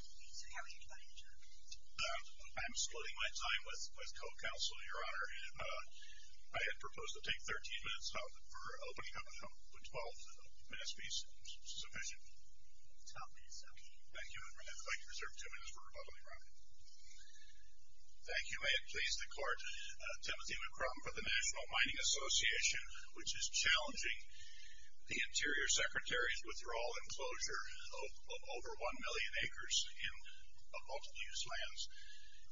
I am excluding my time with co-counsel, Your Honor. I propose to take 13 minutes for opening up the 12-minute speech. Thank you. I'd like to reserve two minutes for rebuttal, Your Honor. Thank you. May it please the Court, Timothy McCrum for the National Mining Association, which is challenging the Interior Secretary's withdrawal and closure of over 1 million acres of multi-use lands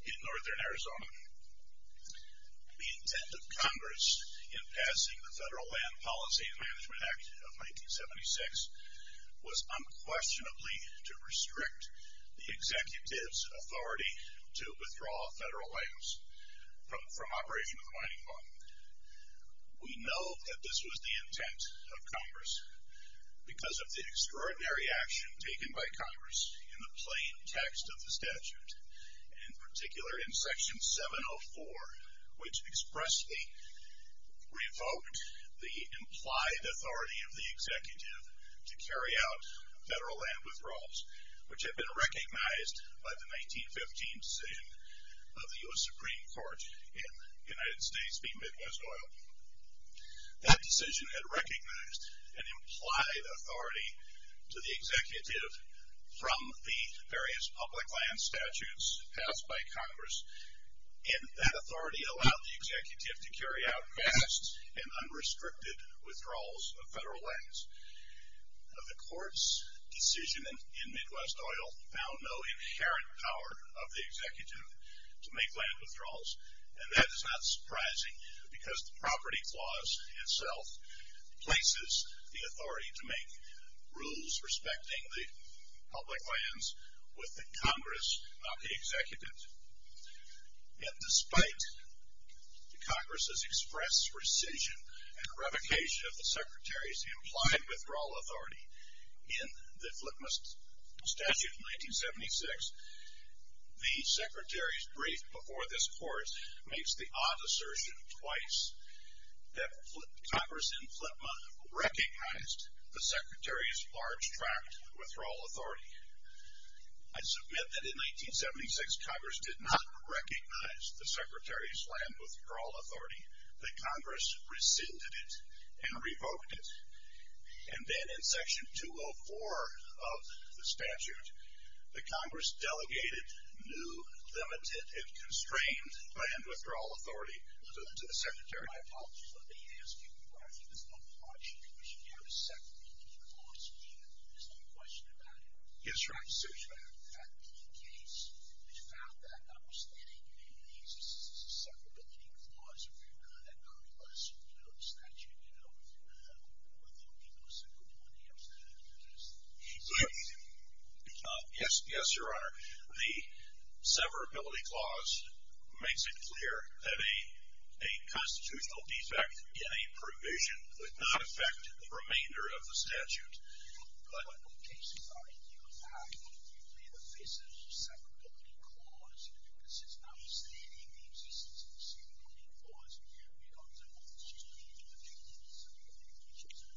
in northern Arizona. The intent of Congress in passing the Federal Land Policy and Management Act of 1976 was unquestionably to restrict the Executive's authority to withdraw federal lands from operation of the mining fund. We know that this was the intent of Congress because of the extraordinary action taken by Congress in the plain text of the statute, in particular in Section 704, which expressly revoked the implied authority of the Executive to carry out federal land withdrawals, which had been recognized by the 1915 decision of the U.S. Supreme Court in the United States v. Midwest Oil. That decision had recognized an implied authority to the Executive from the various public land statutes passed by Congress, and that authority allowed the Executive to carry out vast and unrestricted withdrawals of federal lands. The Court's decision in Midwest Oil found no inherent power of the Executive to make land withdrawals, and that is not surprising because the property clause itself places the authority to make rules respecting the public lands with the Congress of the Executive. Yet despite the Congress's express rescission and revocation of the Secretary's implied withdrawal authority in the FLTMA statute of 1976, the Secretary's brief before this Court makes the odd assertion twice that Congress in FLTMA recognized the Secretary's large tract withdrawal authority. I submit that in 1976, Congress did not recognize the Secretary's land withdrawal authority. The Congress rescinded it and revoked it. And then in Section 204 of the statute, the Congress delegated new, limited, and constrained land withdrawal authority to the Secretary. My apologies. Let me ask you. I think there's no question that we should have a severability clause, even if there's no question about it. Yes, Your Honor. I'm serious about it. In fact, in the case, it's found that, notwithstanding the severability clause, if you're good at nonplussing, you know, the statute, you know, I think people are simply wanting to have that in their list. Yes. Yes, Your Honor. The severability clause makes it clear that a constitutional defect in a provision would not affect the remainder of the statute. But in cases like you have, when you lay the basis of a severability clause, because it's notwithstanding the existence of a severability clause, you have the option of just leaving it at the end of the severability clause.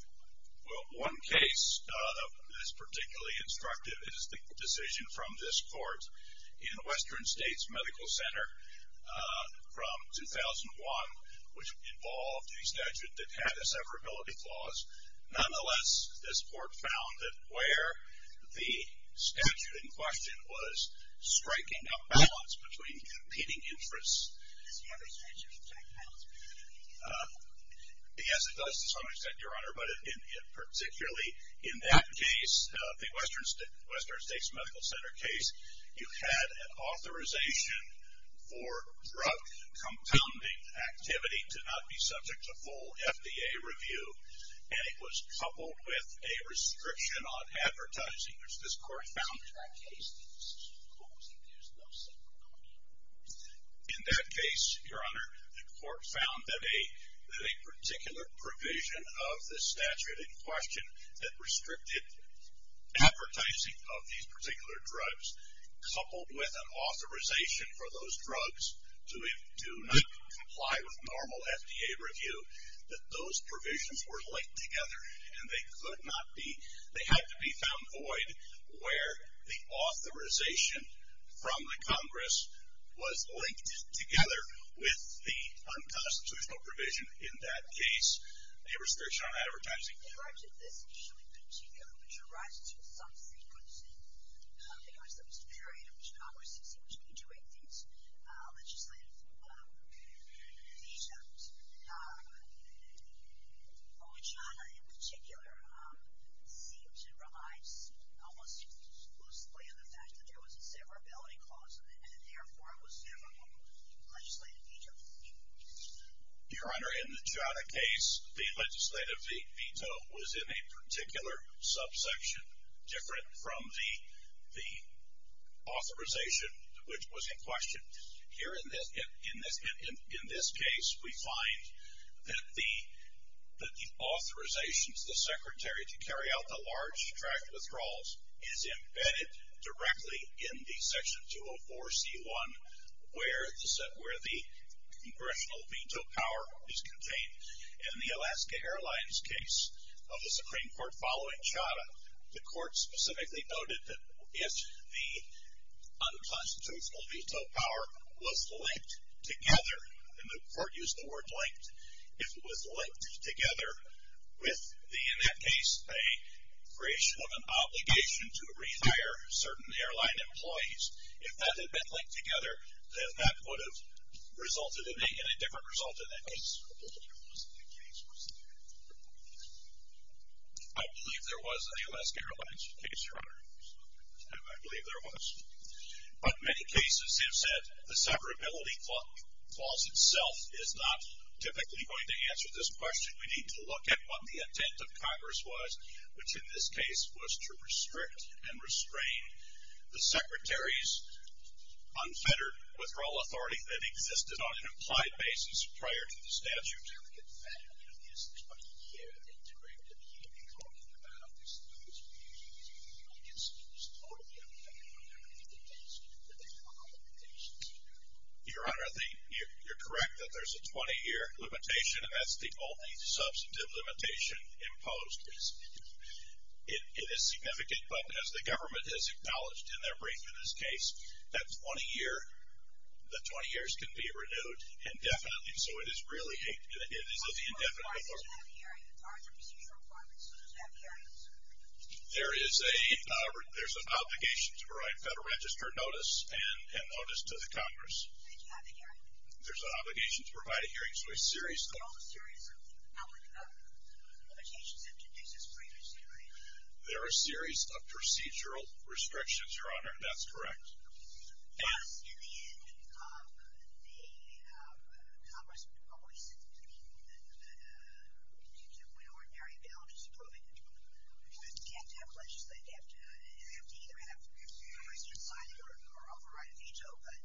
Well, one case that's particularly instructive is the decision from this court in Western States Medical Center from 2001, which involved a statute that had a severability clause. Nonetheless, this court found that where the statute in question was striking a balance between competing interests. Does the other statute strike a balance between competing interests? Yes, it does to some extent, Your Honor. But particularly in that case, the Western States Medical Center case, you had an authorization for drug-compounding activity to not be subject to full FDA review. And it was coupled with a restriction on advertising, which this court found in that case. In that case, Your Honor, the court found that a particular provision of the statute in question that restricted advertising of these particular drugs, coupled with an authorization for those drugs to not comply with normal FDA review, that those provisions were linked together and they could not be, they had to be found void where the authorization from the Congress was linked together with the unconstitutional provision in that case. A restriction on advertising. Correct. This issue in particular, which arises with some sequencing, because there was a period in which Congress seemed to be doing these legislative vetoes. OCHATA in particular seems to relies almost exclusively on the fact that there was a severability clause in it and therefore it was a severable legislative veto. Your Honor, in the OCHATA case, the legislative veto was in a particular subsection, different from the authorization which was in question. Here in this case, we find that the authorizations, the secretary to carry out the large tract withdrawals is embedded directly in the section 204C1, where the congressional veto power is contained. In the Alaska Airlines case of the Supreme Court following OCHATA, the court specifically noted that if the unconstitutional veto power was linked together, and the court used the word linked, if it was linked together with the, in that case, a creation of an obligation to rehire certain airline employees. If that had been linked together, then that would have resulted in a different result in that case. I believe there was a Alaska Airlines case, Your Honor. I believe there was. But many cases have said the severability clause itself is not typically going to answer this question. We need to look at what the intent of Congress was, which in this case was to restrict and restrain the secretary's unfettered withdrawal authority that existed on an implied basis prior to the statute. Your Honor, you're correct that there's a 20-year limitation, and that's the only substantive limitation imposed. It is significant, but as the government has acknowledged in their brief in this case, that 20 years can be renewed indefinitely. So it is really indefinite. There is an obligation to provide Federal Register notice and notice to the Congress. There's an obligation to provide a hearing. So a series. There are a series of procedural restrictions, Your Honor. That's correct. Yes. In the end, the Congress probably said that when ordinary bail is approved, it can't have legislation. It would have to either have the President sign it or override a veto, but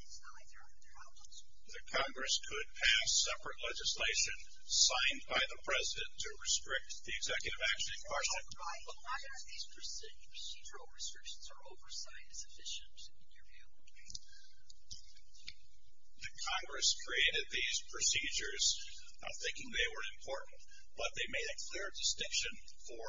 it's not like they're outlaws. The Congress could pass separate legislation signed by the President to restrict the executive action in question. But why are these procedural restrictions or oversight sufficient, in your view? The Congress created these procedures not thinking they were important, but they made a clear distinction for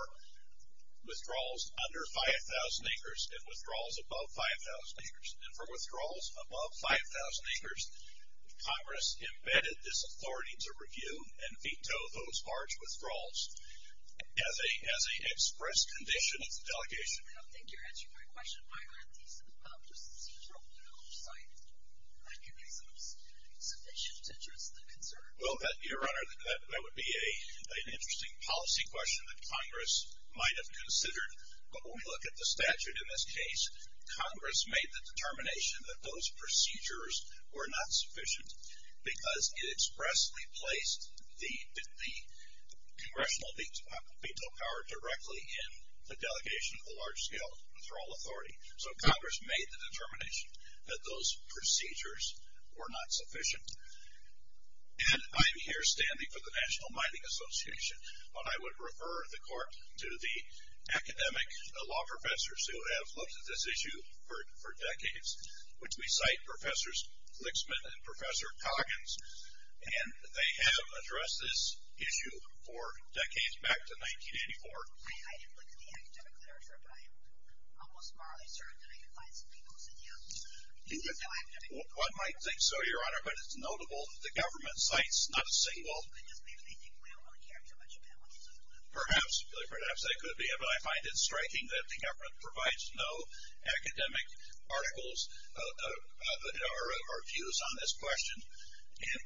withdrawals under 5,000 acres and withdrawals above 5,000 acres. And for withdrawals above 5,000 acres, the Congress embedded this authority to review and veto those large withdrawals. As an express condition of the delegation. I don't think you're answering my question. Why aren't these procedural oversight mechanisms sufficient to address the concern? Well, Your Honor, that would be an interesting policy question that Congress might have considered. But when we look at the statute in this case, Congress made the determination that those procedures were not sufficient because it expressly placed the congressional veto power directly in the delegation of the large-scale withdrawal authority. So Congress made the determination that those procedures were not sufficient. And I'm here standing for the National Mining Association, but I would refer the Court to the academic law professors who have looked at this issue for decades, which we cite Professors Lixman and Professor Coggins. And they have addressed this issue for decades, back to 1984. I didn't look at the academic literature, but I am almost morally certain that I can find some people who said yes. One might think so, Your Honor, but it's notable that the government cites not a single. It just makes me think, well, we don't really care too much about what they say. Perhaps. Perhaps they could be. But I find it striking that the government provides no academic articles or views on this question. And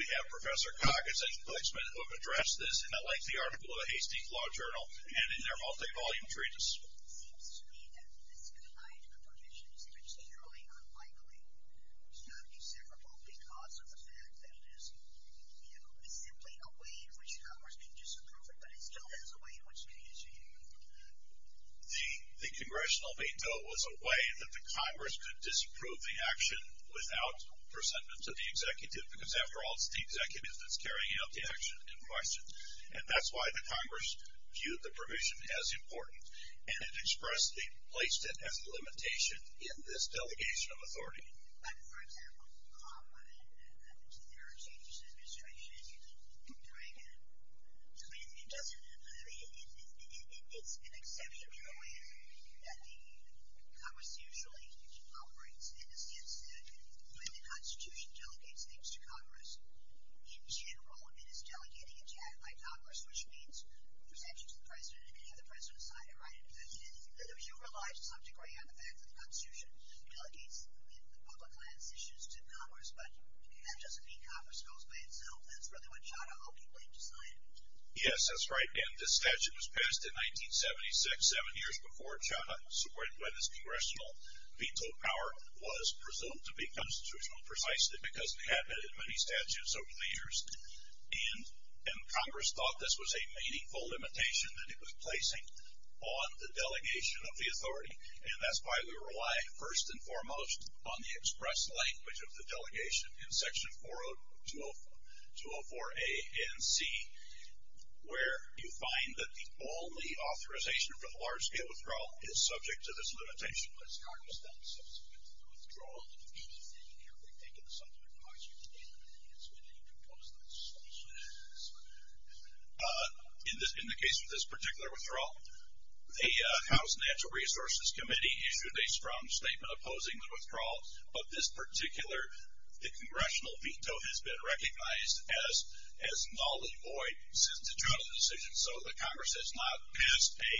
we have Professor Coggins and Professor Lixman who have addressed this in a lengthy article in the Hastings Law Journal and in their multi-volume treatise. The Congressional veto was a way that the Congress could disapprove the action without the persentence of the executive, because after all, it's the executive that's carrying out the action in question. And that's why the Congress viewed the provision as important. And it expressed the placement as a limitation in this delegation of authority. But, for example, when there are changes to the administration, it doesn't, I mean, it's an exceptional way that the Congress usually operates, in the sense that when the Constitution delegates things to Congress, in general, it is delegating a check by Congress, which means a perception to the President. It can have the President sign it, right? And you relied to some degree on the fact that the Constitution delegates public lands issues to Congress, but that doesn't mean Congress goes by itself. That's really what Chadha Oakley decided. Yes, that's right. And this statute was passed in 1976, seven years before Chadha supported when this Congressional veto power was presumed to be constitutional, precisely because it had been in many statutes over the years. And Congress thought this was a meaningful limitation that it was placing on the delegation of the authority. And that's why we rely, first and foremost, on the express language of the delegation in Section 404A and C, where you find that the only authorization for the large-scale withdrawal is subject to this limitation. But has Congress then substituted the withdrawal? If anything, have they taken the subject into consideration and made an announcement that you can post that statute? In the case of this particular withdrawal, the House Natural Resources Committee issued a strong statement opposing the withdrawal, but this particular Congressional veto has been recognized as null and void since it took the decision. So the Congress has not passed a,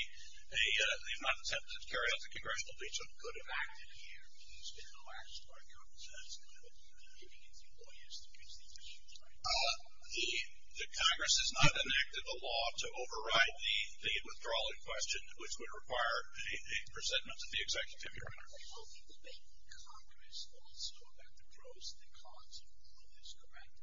they've not attempted to carry out the Congressional veto. Could it have acted here? I mean, there's been no action by Congress, and that's kind of what you're doing, giving it to lawyers to fix these issues, right? The Congress has not enacted a law to override the withdrawal in question, which would require a resentment of the executive. Are they hoping to make Congress also about the pros and the cons of all of this, correct?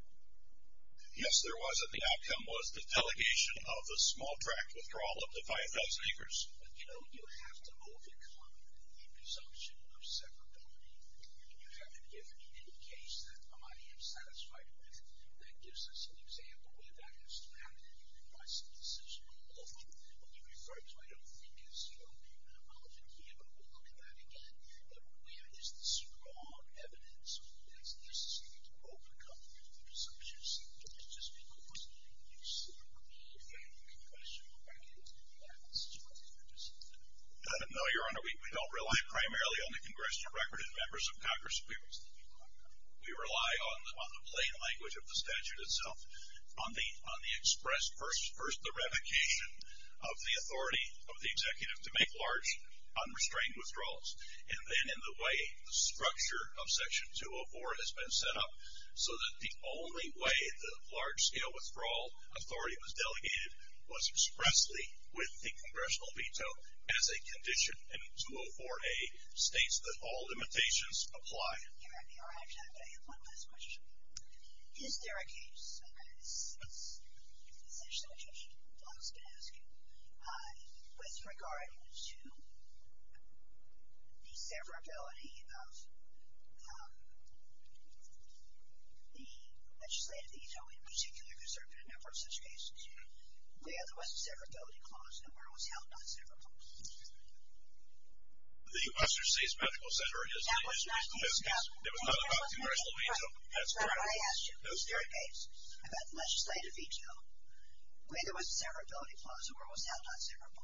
Yes, there was. The outcome was the delegation of the small tract withdrawal up to 5,000 acres. But, you know, you have to overcome the presumption of separability. You haven't given me any case that I am satisfied with that gives us an example where that has to happen and you can make some decisions. What you refer to, I don't think, is, you know, even a mountain here, but we'll look at that again, but where is the strong evidence that's necessary to overcome the presumption of separability? Mr. Speaker, was there any consideration of having a congressional record in regards to what's going to happen? No, Your Honor. We don't rely primarily on the congressional record in members of Congress. We rely on the plain language of the statute itself, on the express, first, the revocation of the authority of the executive to make large, unrestrained withdrawals, and then in the way the structure of Section 204 has been set up so that the only way the large-scale withdrawal authority was delegated was expressly with the congressional veto as a condition. And 204A states that all limitations apply. Your Honor, I have one last question. Is there a case, and this is actually a question that I was going to ask you, with regard to the separability of the legislative veto in particular because there have been a number of such cases, where there was a separability clause and where it was held not separable? The Western States Medical Center is the case. It was not a congressional veto. That's correct. But I asked you, is there a case about the legislative veto where there was a separability clause and where it was held not separable?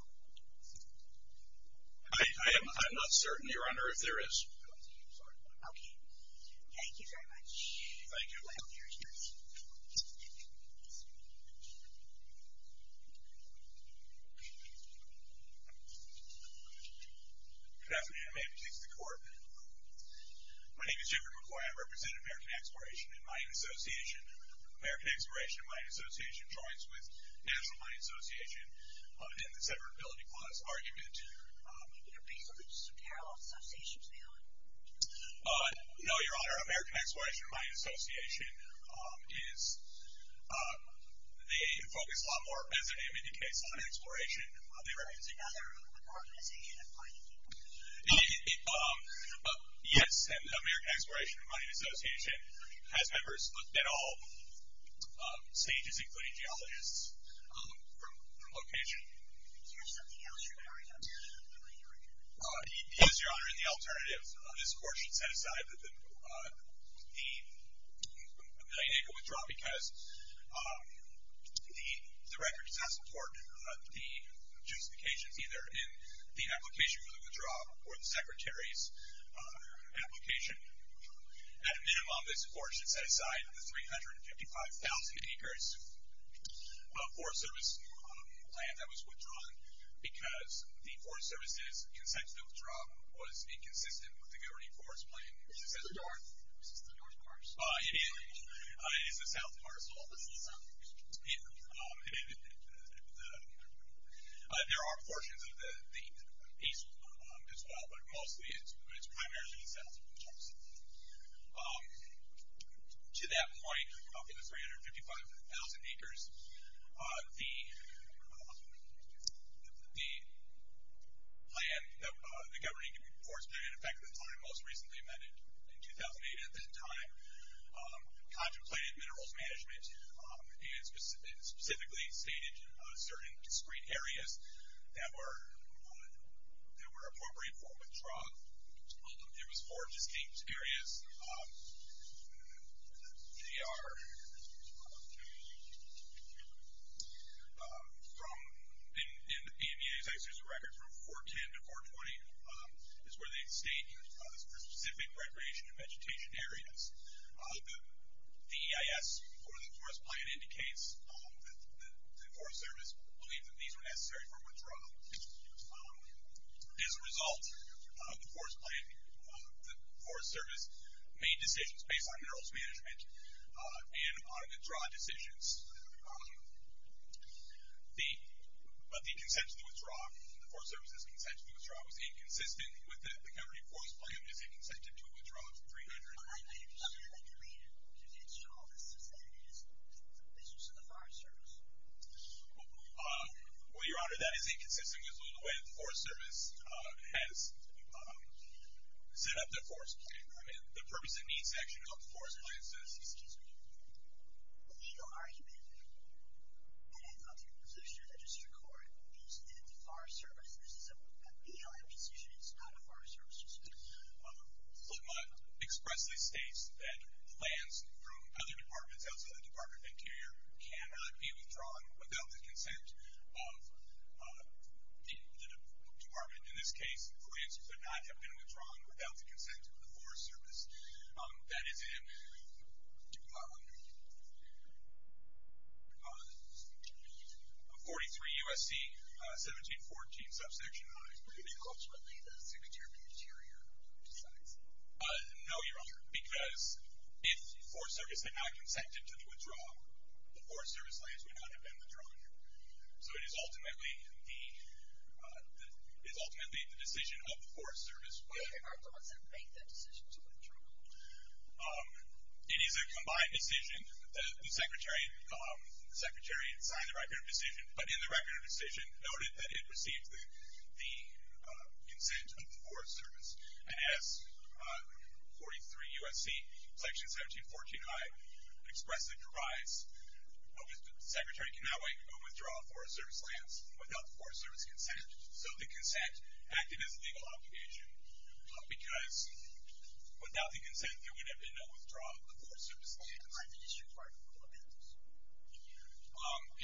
I'm not certain, Your Honor, if there is. Okay. Thank you very much. Thank you. Mr. McQuarrie. Good afternoon. May it please the Court. My name is Jim McQuarrie. I represent American Exploration and Mining Association. American Exploration and Mining Association joins with National Mining Association in the separability clause argument. Are there parallel associations, ma'am? No, Your Honor. American Exploration and Mining Association is the focus a lot more, as their name indicates, on exploration. Are they representing other organizations in mining? Yes. And American Exploration and Mining Association has members at all stages, including geologists, from location. Is there something else you're carrying out there that I'm not hearing? Yes, Your Honor. Your Honor, in the alternative, this Court should set aside the million-acre withdrawal because the record does not support the justification either in the application for the withdrawal or the Secretary's application. At a minimum, this Court should set aside the 355,000 acres of Forest Service land that was withdrawn because the Forest Service's consensual withdrawal was inconsistent with the Governing Forest Plan. Is this the north parcel? It is the south parcel. There are portions of the east as well, but mostly it's primarily the south. To that point, of the 355,000 acres, the Governing Forest Plan, in effect at the time most recently amended in 2008 at that time, contemplated minerals management and specifically stated certain discrete areas that were appropriate for withdrawal. There was four distinct areas. They are, in the BMEA's executive record, from 410 to 420, is where they state the specific recreation and vegetation areas. The EIS for the Forest Plan indicates that the Forest Service believed that these were necessary for withdrawal. As a result of the Forest Plan, the Forest Service made decisions based on minerals management and on the withdrawal decisions, but the consensual withdrawal, the Forest Service's consensual withdrawal, was inconsistent with the Governing Forest Plan as it consented to a withdrawal of 355,000 acres. I understand that the main condition of all this is that it is the business of the Forest Service. Well, Your Honor, that is inconsistent with the way the Forest Service has set up the Forest Plan. The purpose and needs action of the Forest Plan says... Excuse me. The legal argument that I felt in the position of the District Court is that the Forest Service, this is a BLM decision, it's not a Forest Service decision. Flipmutt expressly states that plans from other departments outside the Department of Interior cannot be withdrawn without the consent of the department. In this case, plans could not have been withdrawn without the consent of the Forest Service. That is in 43 U.S.C. 1714, subsection I. Are they ultimately the Secretary of the Interior decides? No, Your Honor, because if the Forest Service had not consented to the withdrawal, the Forest Service lands would not have been withdrawn. So it is ultimately the decision of the Forest Service. What are the requirements that make that decision to withdraw? It is a combined decision. The Secretary signed the record of decision, but in the record of decision noted that it received the consent of the Forest Service. And as 43 U.S.C. section 1714 I expressly provides, the Secretary cannot withdraw Forest Service lands without the Forest Service consent. So the consent acted as a legal obligation because without the consent there would have been no withdrawal of Forest Service lands. What are the district court requirements?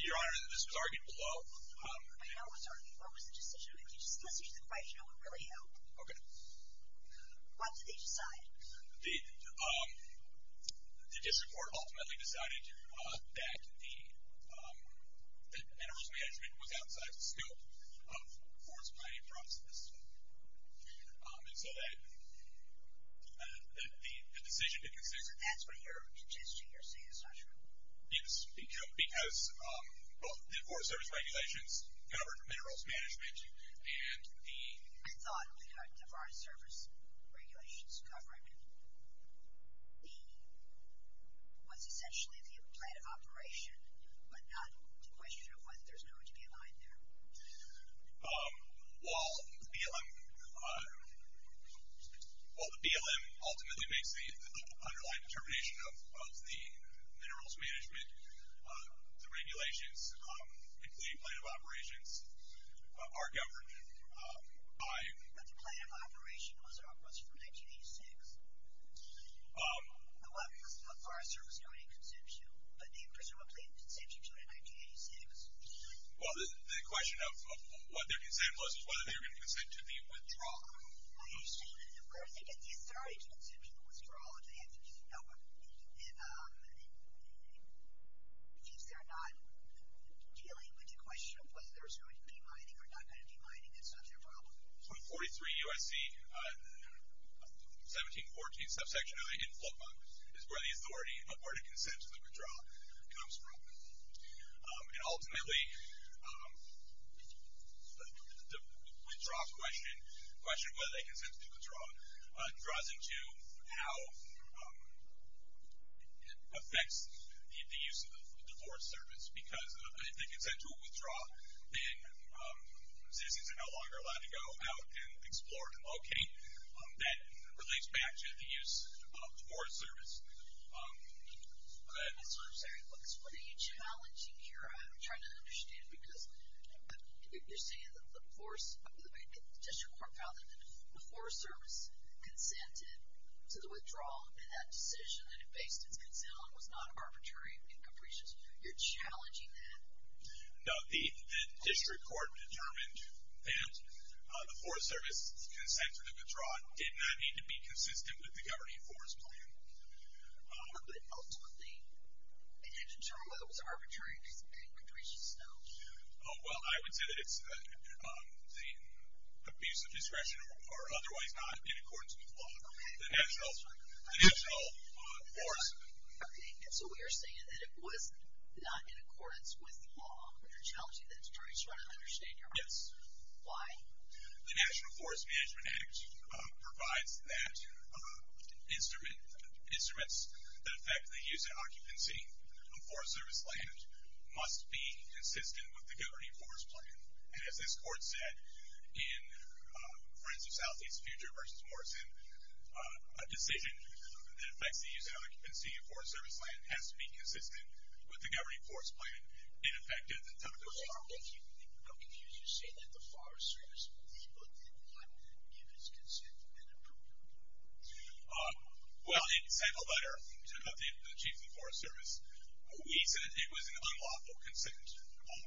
Your Honor, this was argued below. I know it was argued below. What was the decision? Let's use the question. It would really help. Okay. What did they decide? The district court ultimately decided that the minerals management was outside the scope of the Forest Planning and Processing System. And so the decision to consent... That's what you're suggesting, you're saying, is that true? Because both the Forest Service regulations covered minerals management and the... I thought the Forest Service regulations covered what's essentially the plan of operation, but not the question of whether there's going to be a mine there. While the BLM ultimately makes the underlying determination of the minerals management, the regulations, including plan of operations, are governed by... But the plan of operation was from 1986. The weapons of the Forest Service don't even consent to, but they presumably consented to it in 1986. Well, the question of what their consent was is whether they were going to consent to the withdrawal. Of course, they get the authority to consent to the withdrawal, and the answer is no. And if they're not dealing with the question of whether there's going to be mining or not going to be mining, that's not their problem. So in 43 U.S.C., 1714, subsection I in FLPA, is where the authority of where to consent to the withdrawal comes from. And ultimately, the withdrawal question, the question of whether they consent to the withdrawal, draws into how it affects the use of the Forest Service. Because if they consent to a withdrawal, then citizens are no longer allowed to go out and explore and locate. That relates back to the use of the Forest Service. Go ahead. What are you challenging here? I'm trying to understand, because you're saying that the District Court found that the Forest Service consented to the withdrawal, and that decision that it faced its consent on was not arbitrary and capricious. You're challenging that? No. The District Court determined that the Forest Service consented to the withdrawal. It did not need to be consistent with the governing forest plan. But ultimately, it didn't determine whether it was arbitrary or capricious, though. Well, I would say that it's the abuse of discretion or otherwise not in accordance with law. The national forest. Okay. So we are saying that it was not in accordance with law. You're challenging that. I'm just trying to understand. Yes. Why? The National Forest Management Act provides that instruments that affect the use and occupancy of Forest Service land must be consistent with the governing forest plan. And as this Court said in Friends of Southeast Future v. Morrison, a decision that affects the use and occupancy of Forest Service land has to be consistent with the governing forest plan. In effect, it does not. I'm confused. You're saying that the Forest Service did not give its consent and approved it. Well, it sent a letter to the Chief of the Forest Service. He said it was an unlawful consent.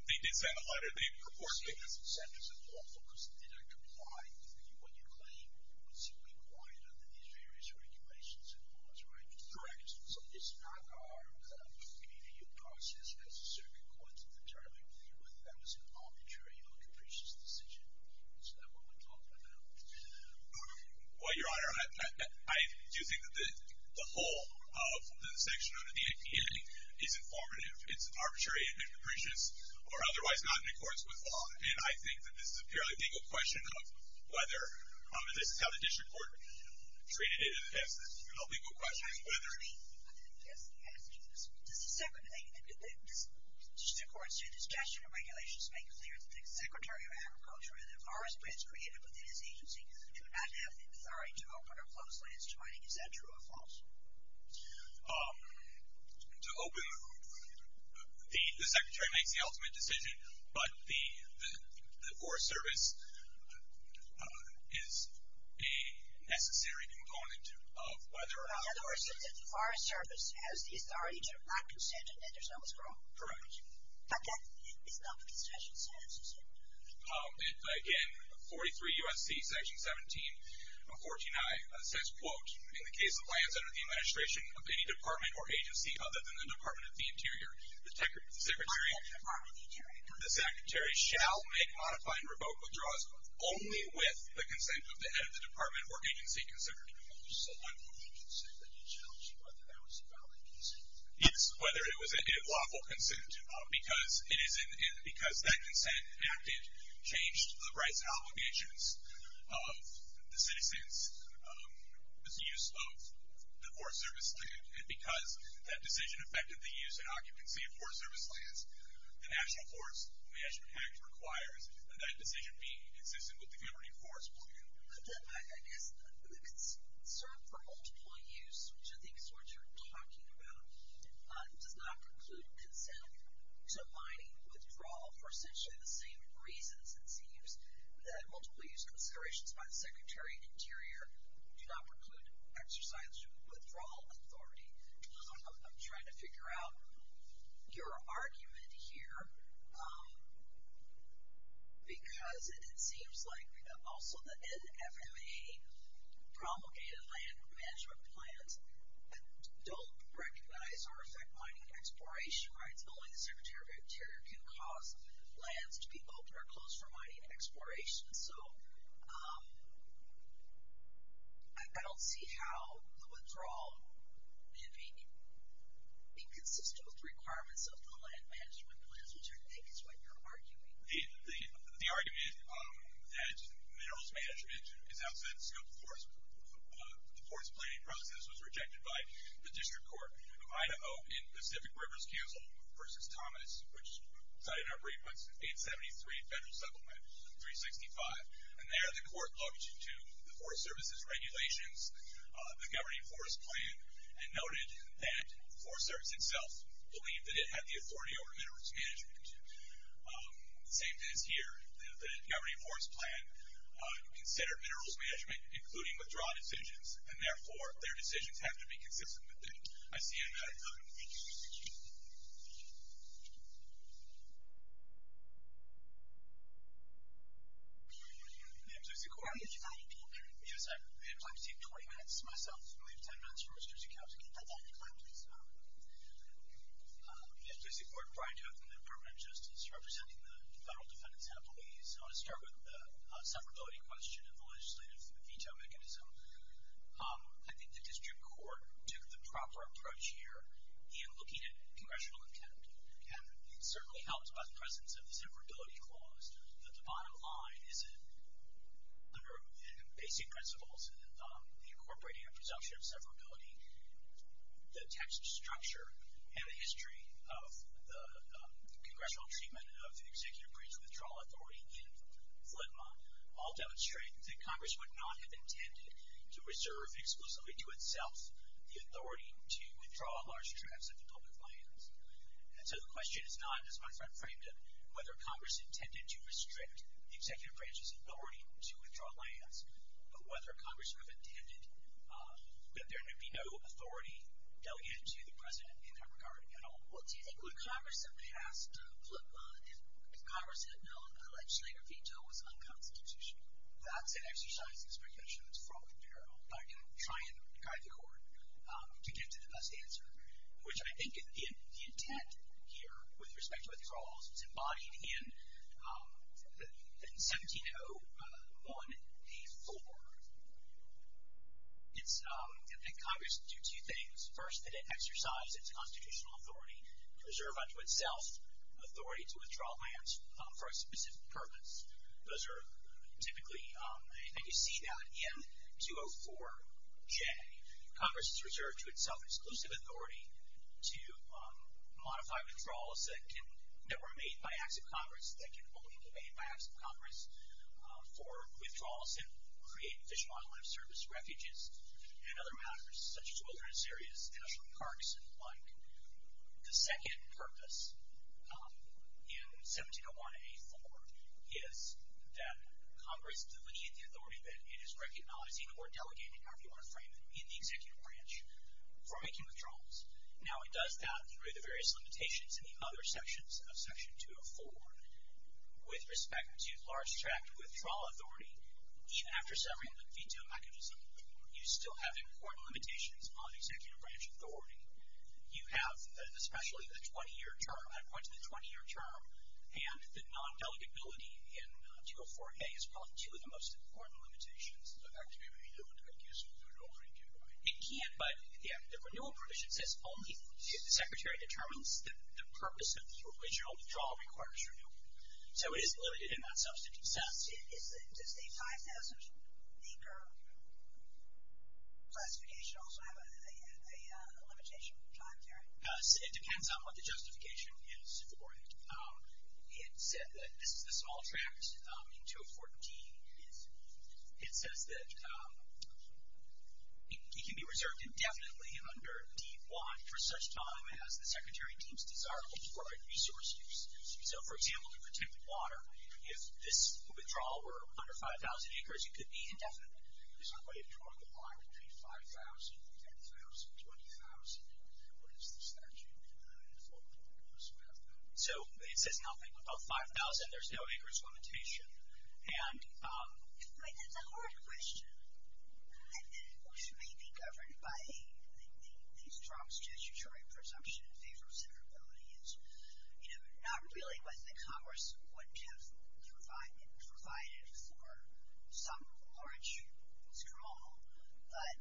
They did send a letter. They purported that it was unlawful. Well, Your Honor, I do think that the whole of the section under the APA is informative. It's arbitrary and capricious or otherwise not in accordance with law. And I think that this is a purely legal question of whether or not this is how the district court treated it. It's a legal question of whether or not. Does the district court's discussion of regulations make clear that the Secretary of Agriculture and the forest plans created within his agency do not have the authority to open Is that true or false? To open, the Secretary makes the ultimate decision, but the Forest Service is a necessary component of whether or not. In other words, the Forest Service has the authority to not consent and there's no miscommunication. Correct. But that is not the concession sentence, is it? Again, 43 U.S.C. Section 17, 14i says, quote, In the case of lands under the administration of any department or agency other than the Department of the Interior, the Secretary shall make modify and revoke withdrawals only with the consent of the head of the department or agency considered. So what was the consent that you challenged, whether that was a valid consent? Yes, whether it was a lawful consent because that consent acted, changed the rights and obligations of the citizens with the use of the Forest Service land and because that decision affected the use and occupancy of Forest Service lands, the National Forest Management Act requires that that decision be consistent with the Governing Forest Plan. I guess the concern for multiple use, which I think is what you're talking about, does not preclude consent to mining withdrawal for essentially the same reasons, it seems, that multiple use considerations by the Secretary of the Interior do not preclude exercise of withdrawal authority. I'm trying to figure out your argument here because it seems like also the NFMA promulgated land management plans don't recognize or affect mining and exploration rights. Only the Secretary of the Interior can cause lands to be open or closed for mining and exploration. So I don't see how the withdrawal may be inconsistent with the requirements of the land management plans, which I think is what you're arguing. The argument that minerals management is outside the scope of the forest planning process was rejected by the District Court of Idaho in Pacific Rivers Council versus Thomas, which cited our briefments, in 73 Federal Settlement 365. And there the court logged into the Forest Service's regulations, the Governing Forest Plan, and noted that Forest Service itself believed that it had the authority over minerals management. The same thing is here. The Governing Forest Plan considered minerals management, including withdrawal decisions, and therefore their decisions have to be consistent with them. I see you in that. I'm Lucy Corr. Yes, I'm trying to take 20 minutes myself. I'm going to leave 10 minutes for Mr. Secretary of the Interior. Go ahead, please. Mr. Secretary of the Interior, I'm Brian Toth from the Department of Justice, representing the Federal Defendant's Appellees. I want to start with the severability question and the legislative veto mechanism. I think the District Court took the proper approach here in looking at congressional intent, and it certainly helps by the presence of the severability clause, but the bottom line is that under basic principles, incorporating a presumption of severability, the text structure, and the history of the congressional treatment of the Executive Branch Withdrawal Authority in Flintmont, all demonstrate that Congress would not have intended to reserve exclusively to itself the authority to withdraw large tracts of the public lands. And so the question is not, as my friend framed it, whether Congress intended to restrict the Executive Branch's authority to withdraw lands, but whether Congress would have intended that there be no authority delegated to the President in that regard at all. Well, do you think when Congress had passed Flintmont, if Congress had known a legislative veto was unconstitutional? That's an exercise in speculation that's fraught with peril, but I'm going to try and guide the Court to get to the best answer, which I think the intent here with respect to withdrawals, it's embodied in 1701A4. It's, I think Congress would do two things. First, that it exercise its constitutional authority to reserve unto itself authority to withdraw lands for a specific purpose. Those are typically, and you see that in 204J. Congress has reserved to itself exclusive authority to modify withdrawals that can, that were made by acts of Congress, that can only be made by acts of Congress for withdrawals that create Fish and Wildlife Service refuges and other matters, such as wilderness areas, national parks, and the like. The second purpose in 1701A4 is that Congress delineate the authority that it is recognizing or delegating, however you want to frame it, in the Executive Branch for making withdrawals. Now, it does that through the various limitations in the other sections of Section 204. With respect to large tract withdrawal authority, even after severing the veto mechanism, you still have important limitations on Executive Branch authority. You have, especially the 20-year term, I point to the 20-year term, and the non-delegability in 204A, as well as two of the most important limitations. It can't, but the renewal provision says only if the Secretary determines that the purpose of the original withdrawal requires renewal. So it is limited in that substantive sense. It depends on what the justification is for it. It said that this is the small tract in 2014. It says that it can be reserved indefinitely under D-1 for such time as the Secretary deems desirable for resource use. So, for example, to protect water, if this withdrawal were under 5,000 acres, it could be indefinitely. There's no way to draw the line between 5,000, 10,000, 20,000. What is the statute in the Affordable Care Act? So it says nothing. About 5,000, there's no acres limitation. I mean, that's a hard question. It may be governed by a strong statutory presumption in favor of severability. It's not really whether the Congress would have provided for some large scrawl, but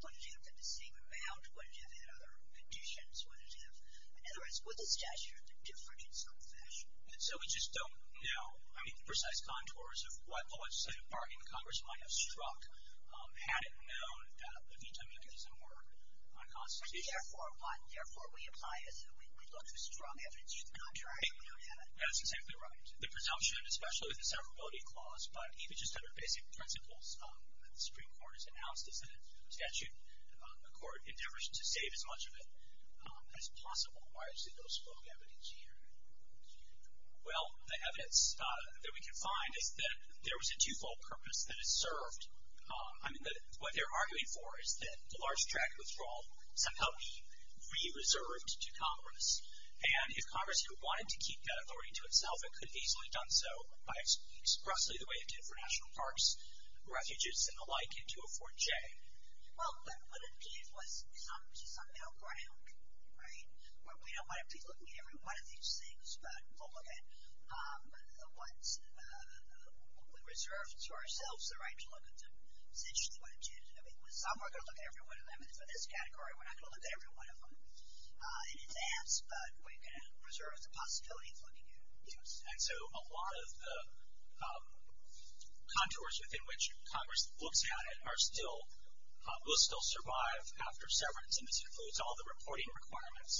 would it have been the same amount? Would it have had other conditions? In other words, would the statute have been different in some fashion? So we just don't know. I mean, the precise contours of what the legislative bargain Congress might have struck hadn't known that the veto mechanism were unconstitutional. Therefore, we look for strong evidence. You're not trying to do that. That's exactly right. The presumption, especially with the severability clause, but even just under basic principles that the Supreme Court has announced, is that a statute, a court endeavors to save as much of it as possible. Why is there no strong evidence here? Well, the evidence that we can find is that there was a twofold purpose that is served. I mean, what they're arguing for is that the large tract withdrawal somehow be re-reserved to Congress. And if Congress wanted to keep that authority to itself, it could have easily done so by expressly the way it did for national parks, refuges, and the like, into a 4J. Right. Well, but what it did was somehow ground, right? We don't want to be looking at every one of these things, but we'll look at what we reserve to ourselves the right to look at them, essentially what it did. I mean, some are going to look at every one of them. And for this category, we're not going to look at every one of them in advance, but we're going to preserve the possibility of looking at those. And so a lot of the contours within which Congress looks at it are still, will still survive after severance, and this includes all the reporting requirements,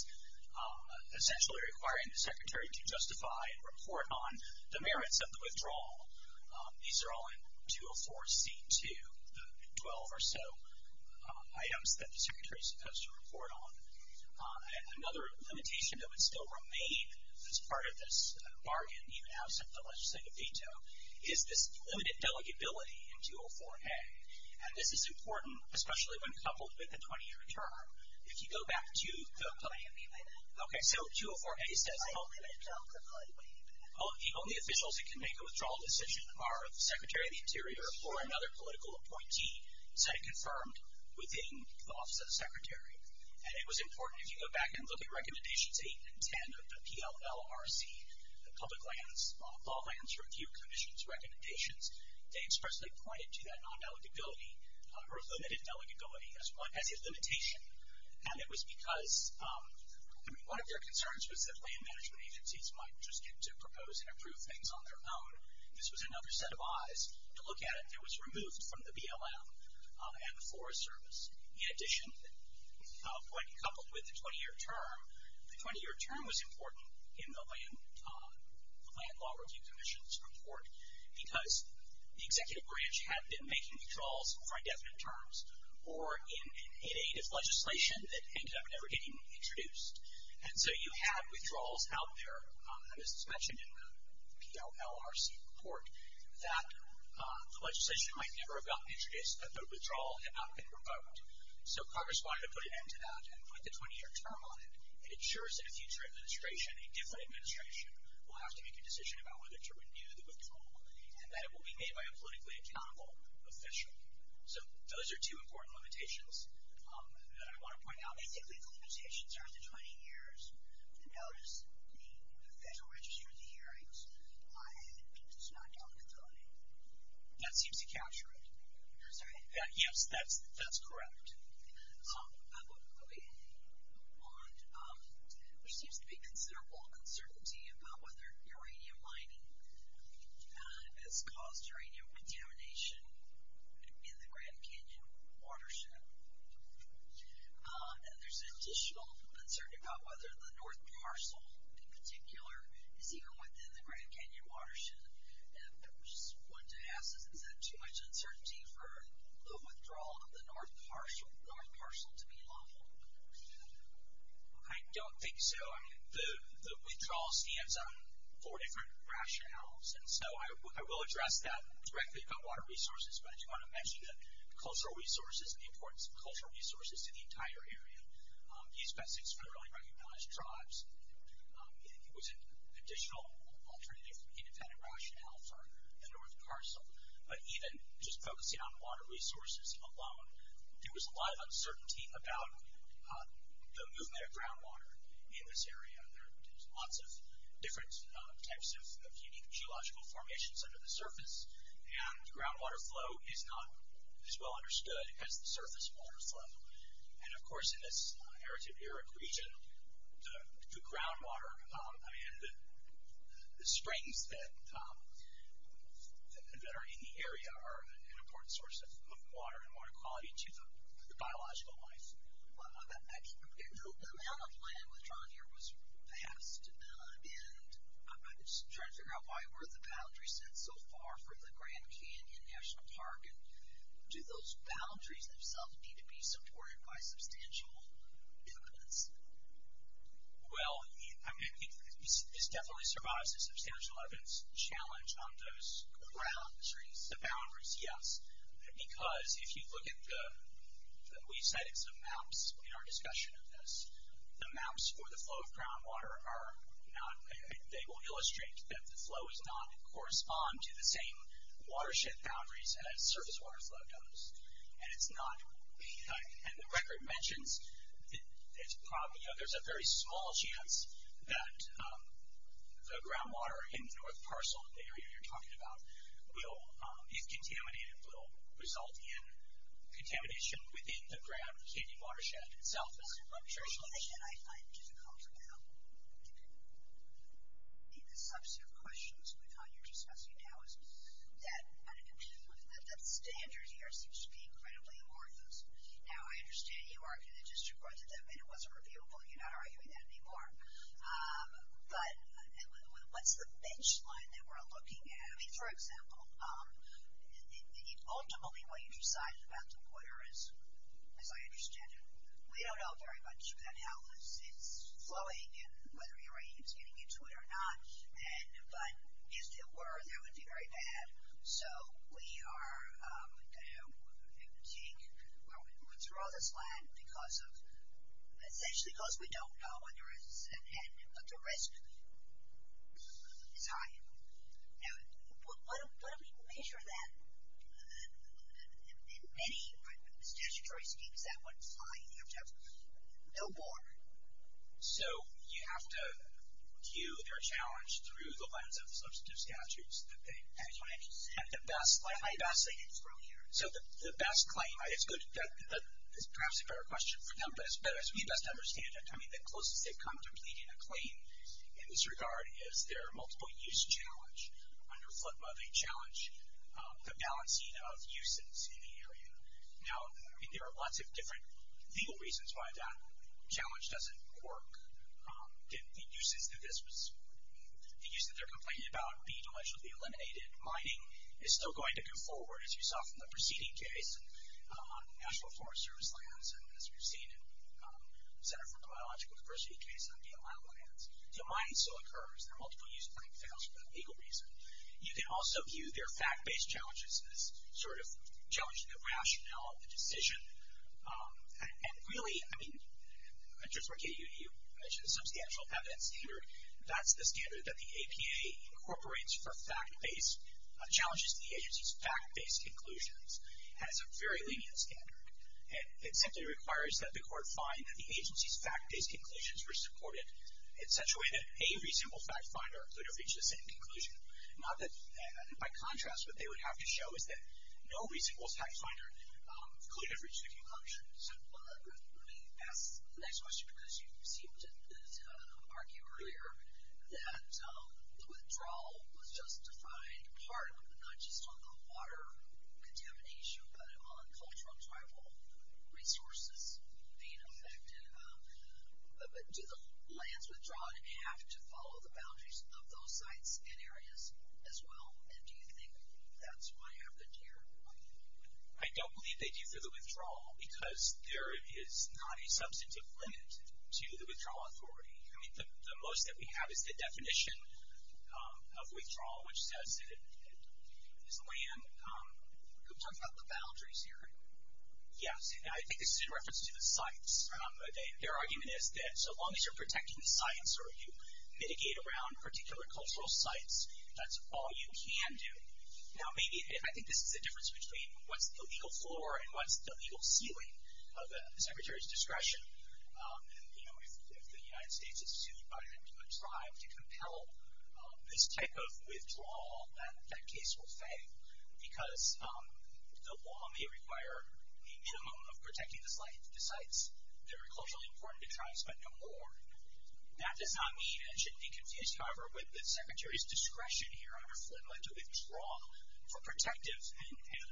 essentially requiring the Secretary to justify and report on the merits of the withdrawal. These are all in 204C2, the 12 or so items that the Secretary is supposed to report on. Another limitation that would still remain as part of this bargain, even outside the legislative veto, is this limited delegability in 204A. And this is important, especially when coupled with a 20-year term. If you go back to the... Can you repeat that? Okay, so 204A says... I didn't get it. The only officials that can make a withdrawal decision are the Secretary of the Interior or another political appointee, said it confirmed within the Office of the Secretary. And it was important, if you go back and look at Recommendations 8 and 10 of the PLLRC, the Public Lands Review Commission's recommendations, they expressly pointed to that non-delegability or limited delegability as a limitation. And it was because one of their concerns was that land management agencies might just get to propose and approve things on their own. This was another set of eyes to look at it. It was removed from the BLM and the Forest Service. In addition, when coupled with the 20-year term, the 20-year term was important in the Land Law Review Commission's report because the executive branch had been making withdrawals for indefinite terms or in aid of legislation that ended up never getting introduced. And so you had withdrawals out there, and this is mentioned in the PLLRC report, that the legislation might never have gotten introduced if the withdrawal had not been revoked. So Congress wanted to put an end to that and put the 20-year term on it. It ensures that a future administration, a different administration, will have to make a decision about whether to renew the withdrawal and that it will be made by a politically accountable official. So those are two important limitations that I want to point out. Basically, the limitations are the 20 years. Notice the Federal Register of the Hearings does not document those. That seems to capture it. I'm sorry? Yes, that's correct. So I want to move on. There seems to be considerable uncertainty about whether uranium mining has caused uranium contamination in the Grand Canyon watershed. And there's additional uncertainty about whether the North Parcel in particular is even within the Grand Canyon watershed. And I just wanted to ask, is that too much uncertainty for the withdrawal of the North Parcel to be lawful? I don't think so. I mean, the withdrawal stands on four different rationales, and so I will address that directly about water resources, but I do want to mention the cultural resources and the importance of cultural resources to the entire area. The East Besix federally recognized tribes. It was an additional alternative independent rationale for the North Parcel. But even just focusing on water resources alone, there was a lot of uncertainty about the movement of groundwater in this area. There's lots of different types of unique geological formations under the surface, and groundwater flow is not as well understood as the surface water flow. And, of course, in this arid sub-arid region, the groundwater, I mean, the springs that are in the area are an important source of water and water quality to the biological life. The amount of land withdrawn here was vast, and I'm just trying to figure out why were the boundaries set so far from the Grand Canyon National Park, and do those boundaries themselves need to be supported by substantial evidence? Well, I mean, this definitely survives a substantial evidence challenge on those boundaries, yes, because if you look at the— we cited some maps in our discussion of this. The maps for the flow of groundwater are not— they will illustrate that the flow does not correspond to the same watershed boundaries as surface water flow does, and it's not— and the record mentions that there's a very small chance that the groundwater in the North Parcel, the area you're talking about, if contaminated, will result in contamination within the Grand Canyon watershed itself. One thing that I find difficult about the substantive questions with how you're discussing now is that the standards here seem to be incredibly amorphous. Now, I understand you argue that just because it wasn't reviewable, you're not arguing that anymore. But what's the bench line that we're looking at? I mean, for example, ultimately what you decided about the water is, as I understand it, we don't know very much about how this is flowing and whether uranium is getting into it or not, but if it were, that would be very bad. So we are going to take or withdraw this land because of— essentially because we don't know whether it's at hand, but the risk is high. Now, what if we measure that? In many statutory schemes, that would be high. You'd have to have no more. So you have to view their challenge through the lens of the substantive statutes that they— That's what I just said. The best— I'm not saying it's wrong here. So the best claim—it's good—that is perhaps a better question for them, but as we best understand it, I mean, the closest they've come to pleading a claim in this regard is their multiple-use challenge under FLIPMA. They challenge the balancing of uses in the area. Now, I mean, there are lots of different legal reasons why that challenge doesn't work. The uses that this was—the use that they're complaining about being allegedly eliminated. Mining is still going to go forward, as you saw from the preceding case, on National Forest Service lands, and as we've seen in the Center for Biological Diversity case on the Alamo lands. The mining still occurs. Their multiple-use claim fails for that legal reason. You can also view their fact-based challenges as sort of challenging the rationale of the decision. And really, I mean, I just want to get at you. You mentioned the substantial evidence standard. That's the standard that the APA incorporates for fact-based challenges to the agency's fact-based conclusions, and it's a very lenient standard. It simply requires that the court find that the agency's fact-based conclusions were supported. It's such a way that a reasonable fact-finder could have reached the same conclusion. Not that—by contrast, what they would have to show is that no reasonable fact-finder could have reached the conclusion. So, let me ask the next question, because you seemed to argue earlier that the withdrawal was just defined partly, not just on the water contamination, but on cultural and tribal resources being affected. Do the lands withdrawn have to follow the boundaries of those sites and areas as well? And do you think that's what happened here? I don't believe they do for the withdrawal, because there is not a substantive limit to the withdrawal authority. I mean, the most that we have is the definition of withdrawal, which says that it is land— You're talking about the boundaries here. Yes, and I think this is in reference to the sites. Their argument is that so long as you're protecting the sites or you mitigate around particular cultural sites, that's all you can do. Now, maybe—I think this is the difference between what's the legal floor and what's the legal ceiling of the Secretary's discretion. And, you know, if the United States is sued by a tribe to compel this type of withdrawal, that case will fail because the law may require a minimum of protecting the sites. They're culturally important to tribes, but no more. That does not mean, and shouldn't be confused, however, with the Secretary's discretion here under FLMLA to withdraw for protective and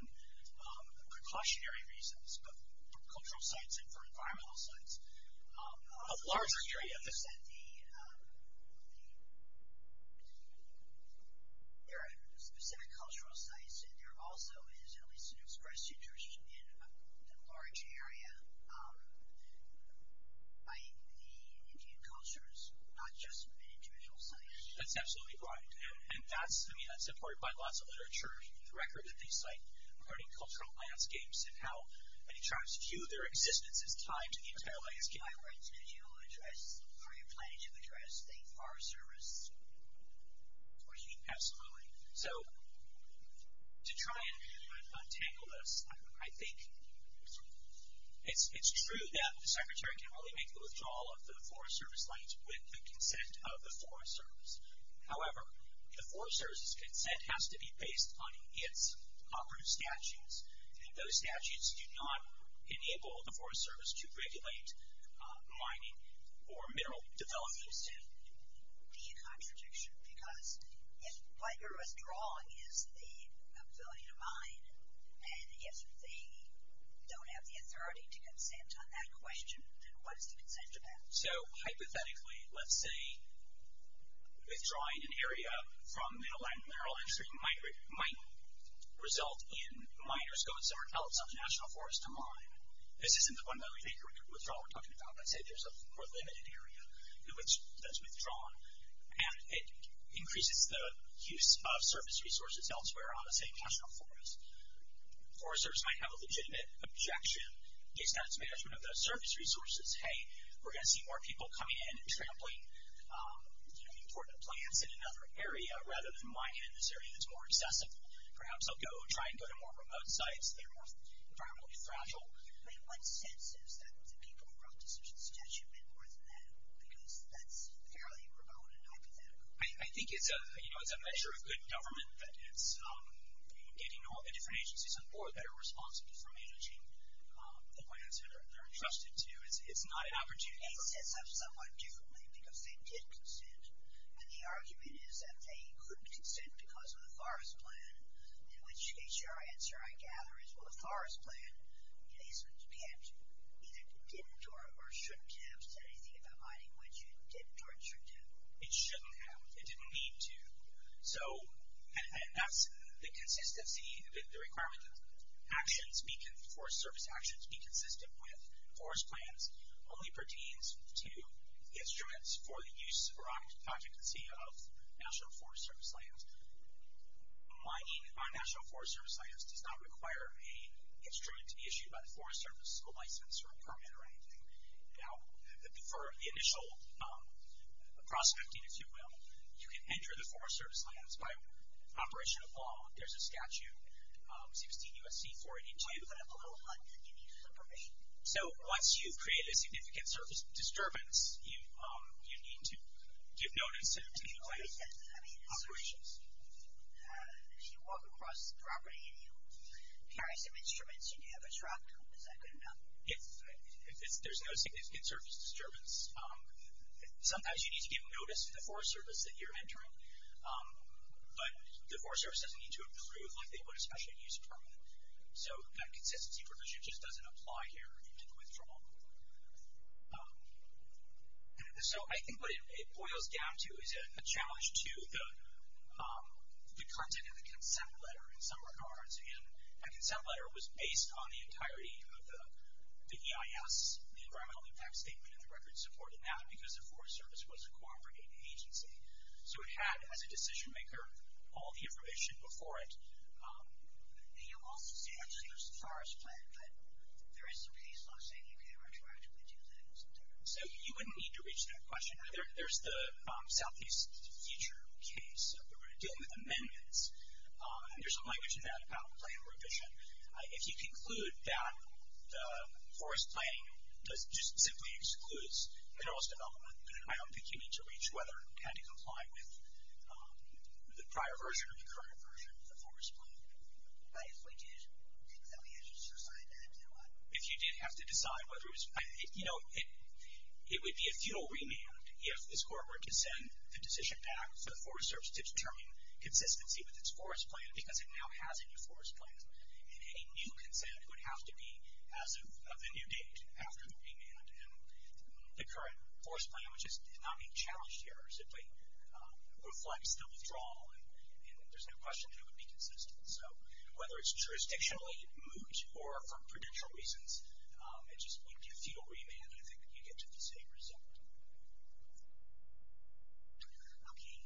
precautionary reasons of cultural sites and for environmental sites. A larger area— There are specific cultural sites, and there also is at least an expressed interest in the large area by the Indian cultures, not just individual sites. That's absolutely right. And that's, I mean, that's supported by lots of literature. The record that they cite regarding cultural landscapes and how many tribes view their existence as tied to the entire landscape. My question is, do you address, or are you planning to address the Forest Service? Absolutely. So, to try and untangle this, I think it's true that the Secretary can only make the withdrawal of the Forest Service lands with the consent of the Forest Service. However, the Forest Service's consent has to be based on its operative statutes, and those statutes do not enable the Forest Service to regulate mining or mineral development. Do you see a contradiction? Because if what you're withdrawing is the ability to mine, and if they don't have the authority to consent on that question, then what is the consent of that? So, hypothetically, let's say withdrawing an area from the land, mineral entry might result in miners going somewhere else on the National Forest to mine. This isn't the one-million-acre withdrawal we're talking about. Let's say there's a more limited area that's withdrawn, and it increases the use of service resources elsewhere on the same National Forest. The Forest Service might have a legitimate objection based on its management of those service resources. Hey, we're going to see more people coming in and trampling important plants in another area rather than mining in this area that's more accessible. Perhaps they'll try and go to more remote sites that are more environmentally fragile. I mean, what sense is that the people who wrote the decision statute meant more than that? Because that's fairly remote and hypothetical. I think it's a measure of good government that it's getting all the different agencies on board that are responsible for managing the plants that they're entrusted to. It's not an opportunity for— The state sets up somewhat differently because they did consent, and the argument is that they couldn't consent because of the Forest Plan, in which case your answer, I gather, is, well, the Forest Plan, it is— it either didn't or shouldn't have said anything about mining, which it did or it shouldn't have. It shouldn't have. It didn't need to. So, and that's the consistency, the requirement that actions be— instruments for the use or occupancy of National Forest Service lands. Mining on National Forest Service lands does not require a instrument to be issued by the Forest Service, a license or a permit or anything. Now, for the initial prospecting, if you will, you can enter the Forest Service lands by operation of law. There's a statute, 16 U.S.C. 482. But I'm a little hung up. Can you separate? So, once you've created a significant surface disturbance, you need to give notice to— I mean, I mean— Operations. As you walk across the property and you carry some instruments, you do have a truck. Is that good enough? If there's no significant surface disturbance, sometimes you need to give notice to the Forest Service that you're entering, but the Forest Service doesn't need to approve like they would a special use permit. So, that consistency provision just doesn't apply here into the withdrawal. So, I think what it boils down to is a challenge to the content of the consent letter in some regards. And that consent letter was based on the entirety of the EIS, the Environmental Impact Statement, and the records supporting that, because the Forest Service was a cooperating agency. So, it had, as a decision maker, all the information before it. And you also say, actually, there's a forest plan, but there is some piece law saying you can't retroactively do that. So, you wouldn't need to reach that question, either. There's the Southeast Future case where we're dealing with amendments. There's some language in that about plan revision. If you conclude that forest planning just simply excludes minerals development, then I don't think you need to reach whether it had to comply with the prior version or the current version of the forest plan. But if we did think that we had to decide that, then what? If you did have to decide whether it was, you know, it would be a futile remand if this court were to send the decision back to the Forest Service to determine consistency with its forest plan, because it now has a new forest plan. And any new consent would have to be as of the new date, after the remand. And the current forest plan, which is not being challenged here, simply reflects the withdrawal, and there's no question it would be consistent. So, whether it's jurisdictionally moot or for prudential reasons, it just would be a futile remand, and I think you get to the same result. Okay.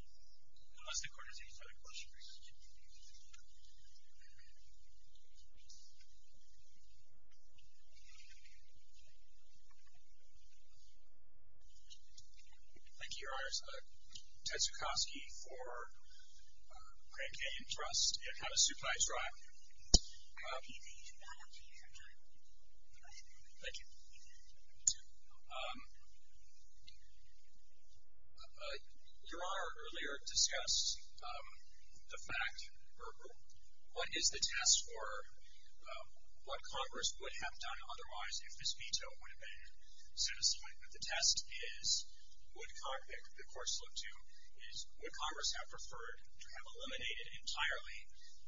Unless the court has any further questions. Thank you. Thank you, Your Honors. Ted Zukosky for Grand Canyon Trust and Havasupai Tribe. Thank you. Thank you. Your Honor, earlier discussed the fact, or what is the test for what Congress would have done otherwise if this veto would have been satisfied. But the test is, would Congress have preferred to have eliminated entirely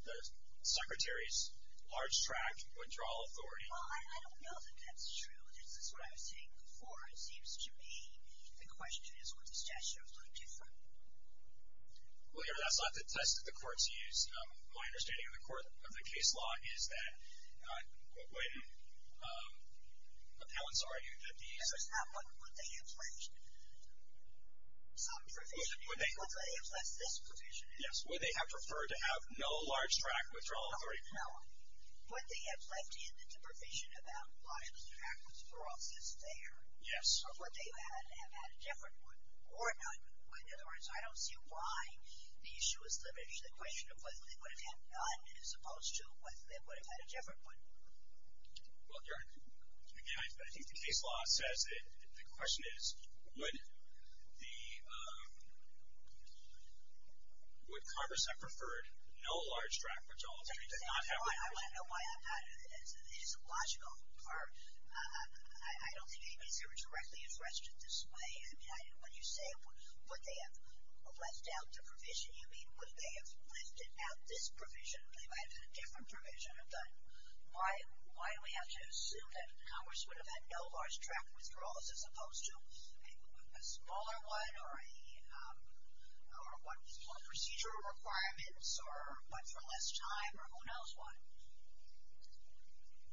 the Secretary's large-track withdrawal authority? Well, I don't know that that's true. This is what I was saying before. It seems to me the question is would the statute look different. Well, Your Honor, that's not the test that the courts use. My understanding of the court, of the case law, is that when appellants argue that the I'm sorry, what would they have pledged? Some provision. What would they have pledged this provision is? Yes. Would they have preferred to have no large-track withdrawal authority? No. Would they have left in the provision about large-track withdrawals is there? Yes. Or would they have had a different one? Or none? In other words, I don't see why the issue is limited to the question of whether they would have had none as opposed to whether they would have had a different one. Well, Your Honor, again, I think the case law says that the question is would Congress have preferred no large-track withdrawals. Exactly. I want to know why. It is illogical. I don't think any case here would directly address it this way. I mean, when you say would they have left out the provision, you mean would they have lifted out this provision? They might have had a different provision. But why do we have to assume that Congress would have had no large-track withdrawals as opposed to a smaller one or what was called procedure requirements or what's for less time or who knows what?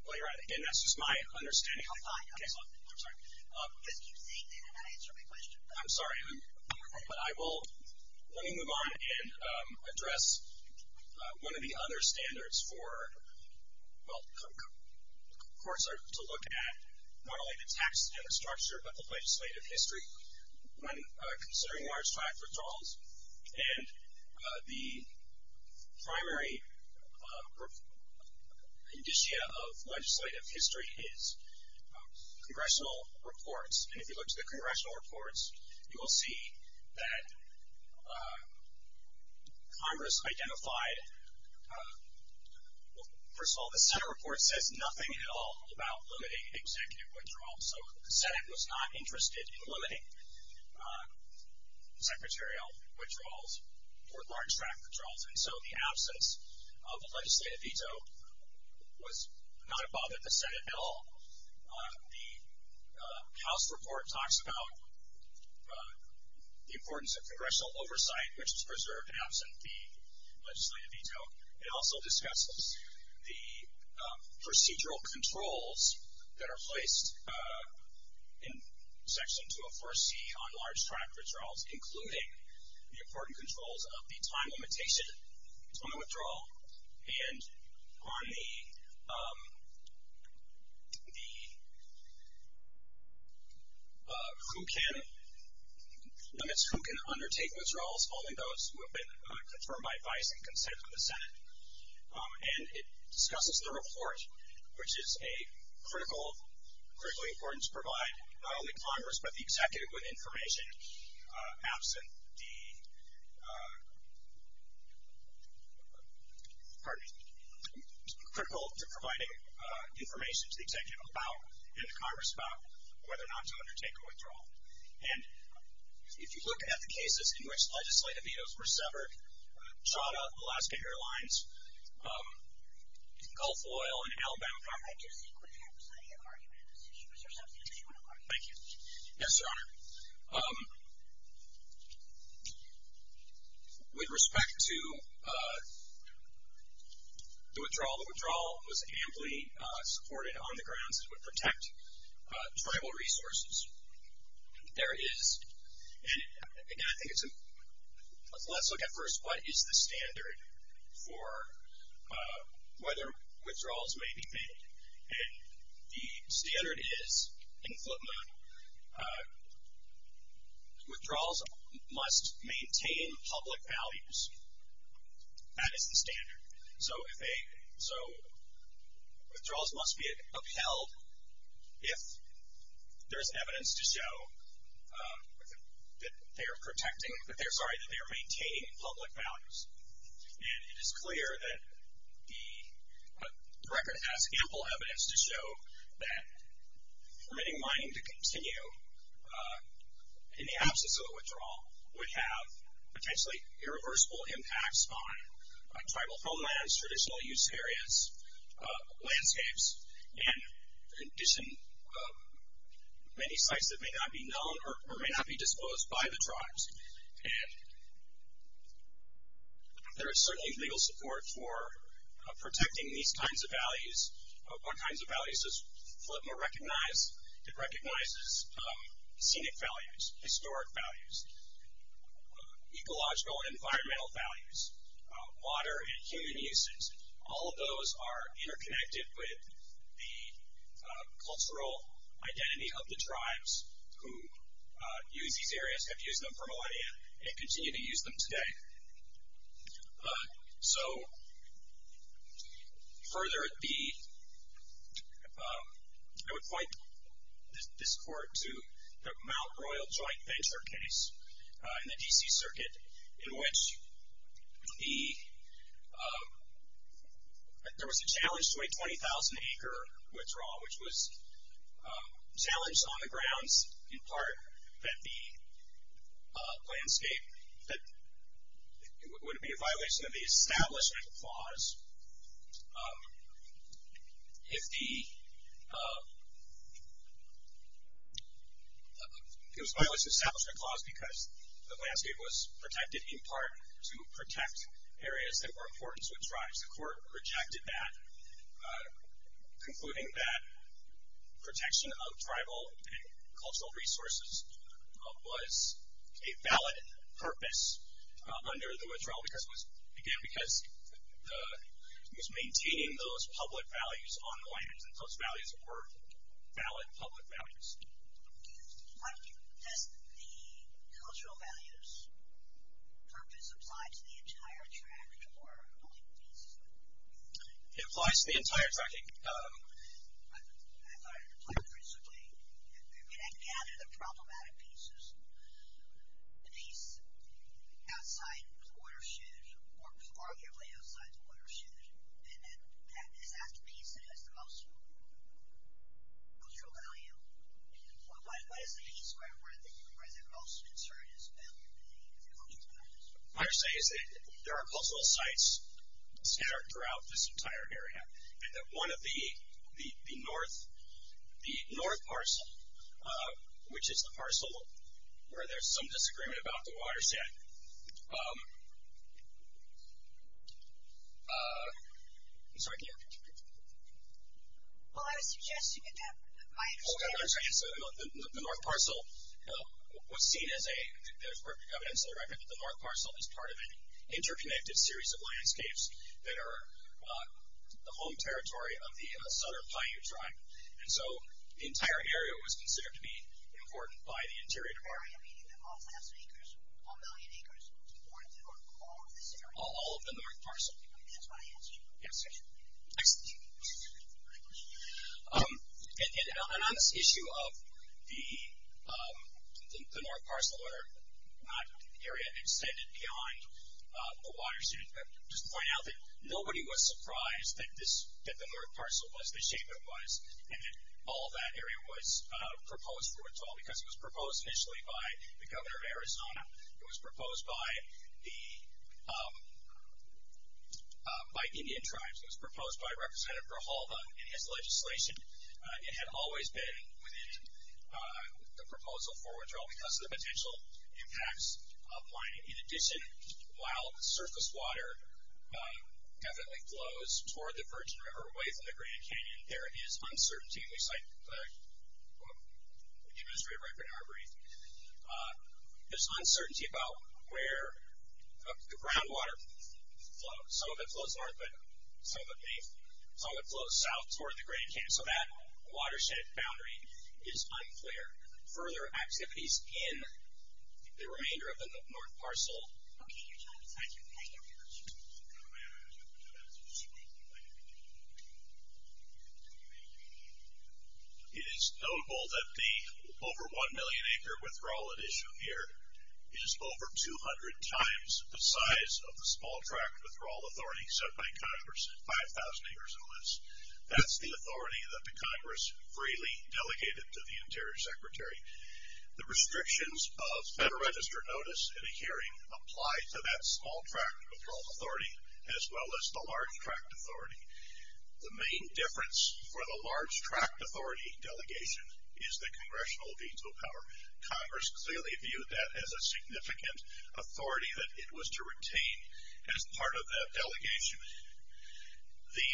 Well, Your Honor, again, that's just my understanding. Oh, fine. I'm sorry. You just keep saying that and I answer my question. I'm sorry. But I will. Let me move on and address one of the other standards for courts to look at not only the tax data structure but the legislative history. When considering large-track withdrawals and the primary indicia of legislative history is congressional reports. And if you look to the congressional reports, you will see that Congress identified, first of all, the Senate report says nothing at all about limiting executive withdrawals. So the Senate was not interested in limiting secretarial withdrawals or large-track withdrawals. And so the absence of a legislative veto was not above the Senate at all. The House report talks about the importance of congressional oversight, which is preserved in absent the legislative veto. It also discusses the procedural controls that are placed in Section 24C on large-track withdrawals, including the important controls of the time limitation on the withdrawal and on the limits who can undertake withdrawals, only those who have been confirmed by advice and consent of the Senate. And it discusses the report, which is a critical, critically important to provide not only Congress but the executive with information absent the, pardon me, critical to providing information to the executive about and to Congress about whether or not to undertake a withdrawal. And if you look at the cases in which legislative vetoes were severed, Chadha, Alaska Airlines, Gulf Oil, and Alabama Carpet. I just think we have plenty of arguments. If you wish to substitute, if you want to argue. Thank you. Yes, Your Honor. With respect to the withdrawal, the withdrawal was amply supported on the grounds that it would protect tribal resources. There is, and again, I think it's a, let's look at first what is the standard for whether withdrawals may be made. And the standard is, in footnote, withdrawals must maintain public values. That is the standard. So withdrawals must be upheld if there is evidence to show that they are protecting, sorry, that they are maintaining public values. And it is clear that the record has ample evidence to show that permitting mining to continue in the absence of a withdrawal would have potentially irreversible impacts on tribal homelands, traditional use areas, landscapes, and in addition, many sites that may not be known or may not be disposed by the tribes. And there is certainly legal support for protecting these kinds of values. What kinds of values does FLTMA recognize? It recognizes scenic values, historic values, ecological and environmental values, water and human uses. All of those are interconnected with the cultural identity of the tribes who use these areas, have used them for millennia, and continue to use them today. So further, I would point this court to the Mount Royal Joint Venture case in the D.C. Circuit in which there was a challenge to a 20,000-acre withdrawal, which was challenged on the grounds, in part, that the landscape, that it would be a violation of the Establishment Clause if the, it was a violation of the Establishment Clause because the landscape was protected, in part, to protect areas that were important to its tribes. The court rejected that, concluding that protection of tribal and cultural resources was a valid purpose under the withdrawal because it was, again, because it was maintaining those public values on the lands, and those values were valid public values. Does the cultural values purpose apply to the entire tract or only the pieces? It applies to the entire tract. I thought it applied principally. I mean, I gather the problematic pieces, the piece outside the watershed, or arguably outside the watershed, is that the piece that has the most cultural value? What is the piece where the most concern is the cultural values? What I'm saying is that there are cultural sites scattered throughout this entire area, and that one of the north parcel, which is the parcel where there's some disagreement about the watershed, I'm sorry, can you repeat? Well, I was suggesting that the north parcel was seen as a, there's evidence in the record that the north parcel is part of an interconnected series of landscapes that are the home territory of the southern Paiute tribe, and so the entire area was considered to be important by the Interior Department. The entire area, meaning that all thousand acres, all million acres, was important to all of this area? All of the north parcel. That's my answer. Yes. Next. And on this issue of the north parcel or area extended beyond the watershed, just to point out that nobody was surprised that the north parcel was the shape it was, and that all of that area was proposed for withdrawal, because it was proposed initially by the governor of Arizona. It was proposed by Indian tribes. It was proposed by Representative Rahalva in his legislation. It had always been within the proposal for withdrawal because of the potential impacts of mining. In addition, while the surface water definitely flows toward the Virgin River, away from the Grand Canyon, there is uncertainty. We cite the Administrative Record in our brief. There's uncertainty about where the groundwater flows. Some of it flows north, but some of it flows south toward the Grand Canyon. So that watershed boundary is unclear. Further activities in the remainder of the north parcel. Okay. Thank you, John. Thank you. Thank you. It is notable that the over 1 million acre withdrawal at issue here is over 200 times the size of the small tract withdrawal authority set by Congress, 5,000 acres or less. That's the authority that the Congress freely delegated to the interior secretary. The restrictions of Federal Register notice in a hearing apply to that small tract withdrawal authority, as well as the large tract authority. The main difference for the large tract authority delegation is the congressional veto power. Congress clearly viewed that as a significant authority that it was to retain as part of that delegation. The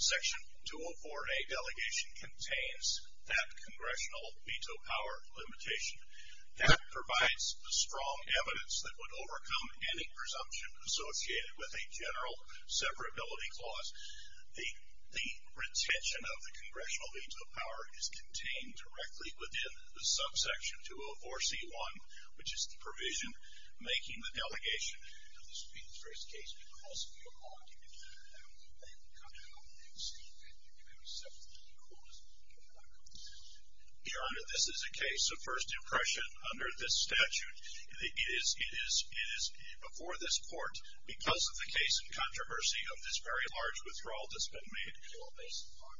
Section 204A delegation contains that congressional veto power limitation. That provides strong evidence that would overcome any presumption associated with a general separability clause. The retention of the congressional veto power is contained directly within the subsection 204C1, which is the provision making the delegation. Now, this being the first case, because of your argument, I will then comment on things that you may have accepted in the course of your argument. Your Honor, this is a case of first impression under this statute. It is before this Court because of the case and controversy of this very large withdrawal that's been made.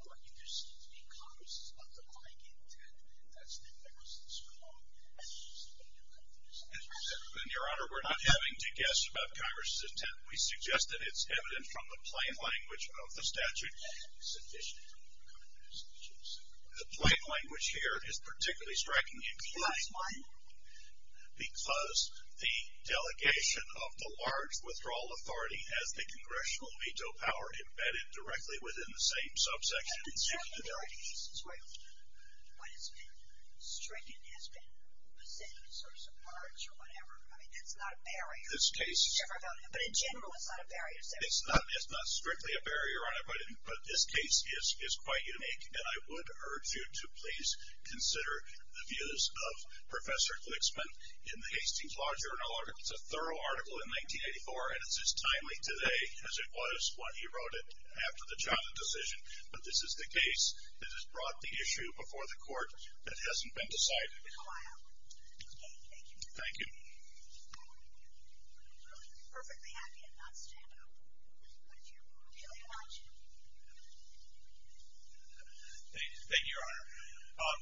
Your Honor, we're not having to guess about Congress's intent. We suggest that it's evident from the plain language of the statute. The plain language here is particularly strikingly implying because the delegation of the large withdrawal authority has the congressional veto power embedded directly within the same subsection. It's not a barrier. It's not strictly a barrier, Your Honor, but this case is quite unique, and I would urge you to please consider the views of Professor Glicksman in the Hastings Law Journal. It's a thorough article in 1984, and it's as timely today as it was when he wrote it after the Johnson decision, but this is the case that has brought the issue before the Court that hasn't been decided. Thank you. Thank you, Your Honor.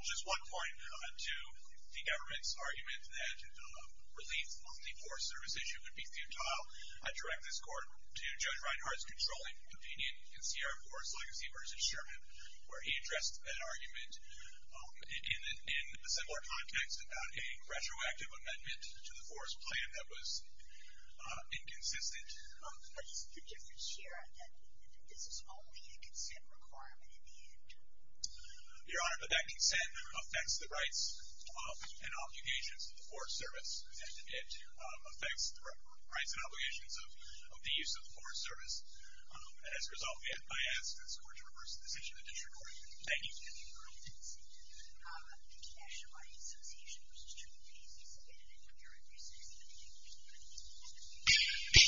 Just one point to the government's argument that relief on the Forest Service issue would be futile. I direct this Court to Judge Reinhardt's controlling opinion in Sierra Forest Legacy v. Sherman, where he addressed that argument in a similar context about a retroactive amendment to the Forest Plan that was inconsistent. But it's the difference here, again, that this is only a consent requirement in the end. Your Honor, but that consent affects the rights and obligations of the Forest Service, and it affects the rights and obligations of the use of the Forest Service. As a result, I ask this Court to reverse the decision and disregard it. Thank you.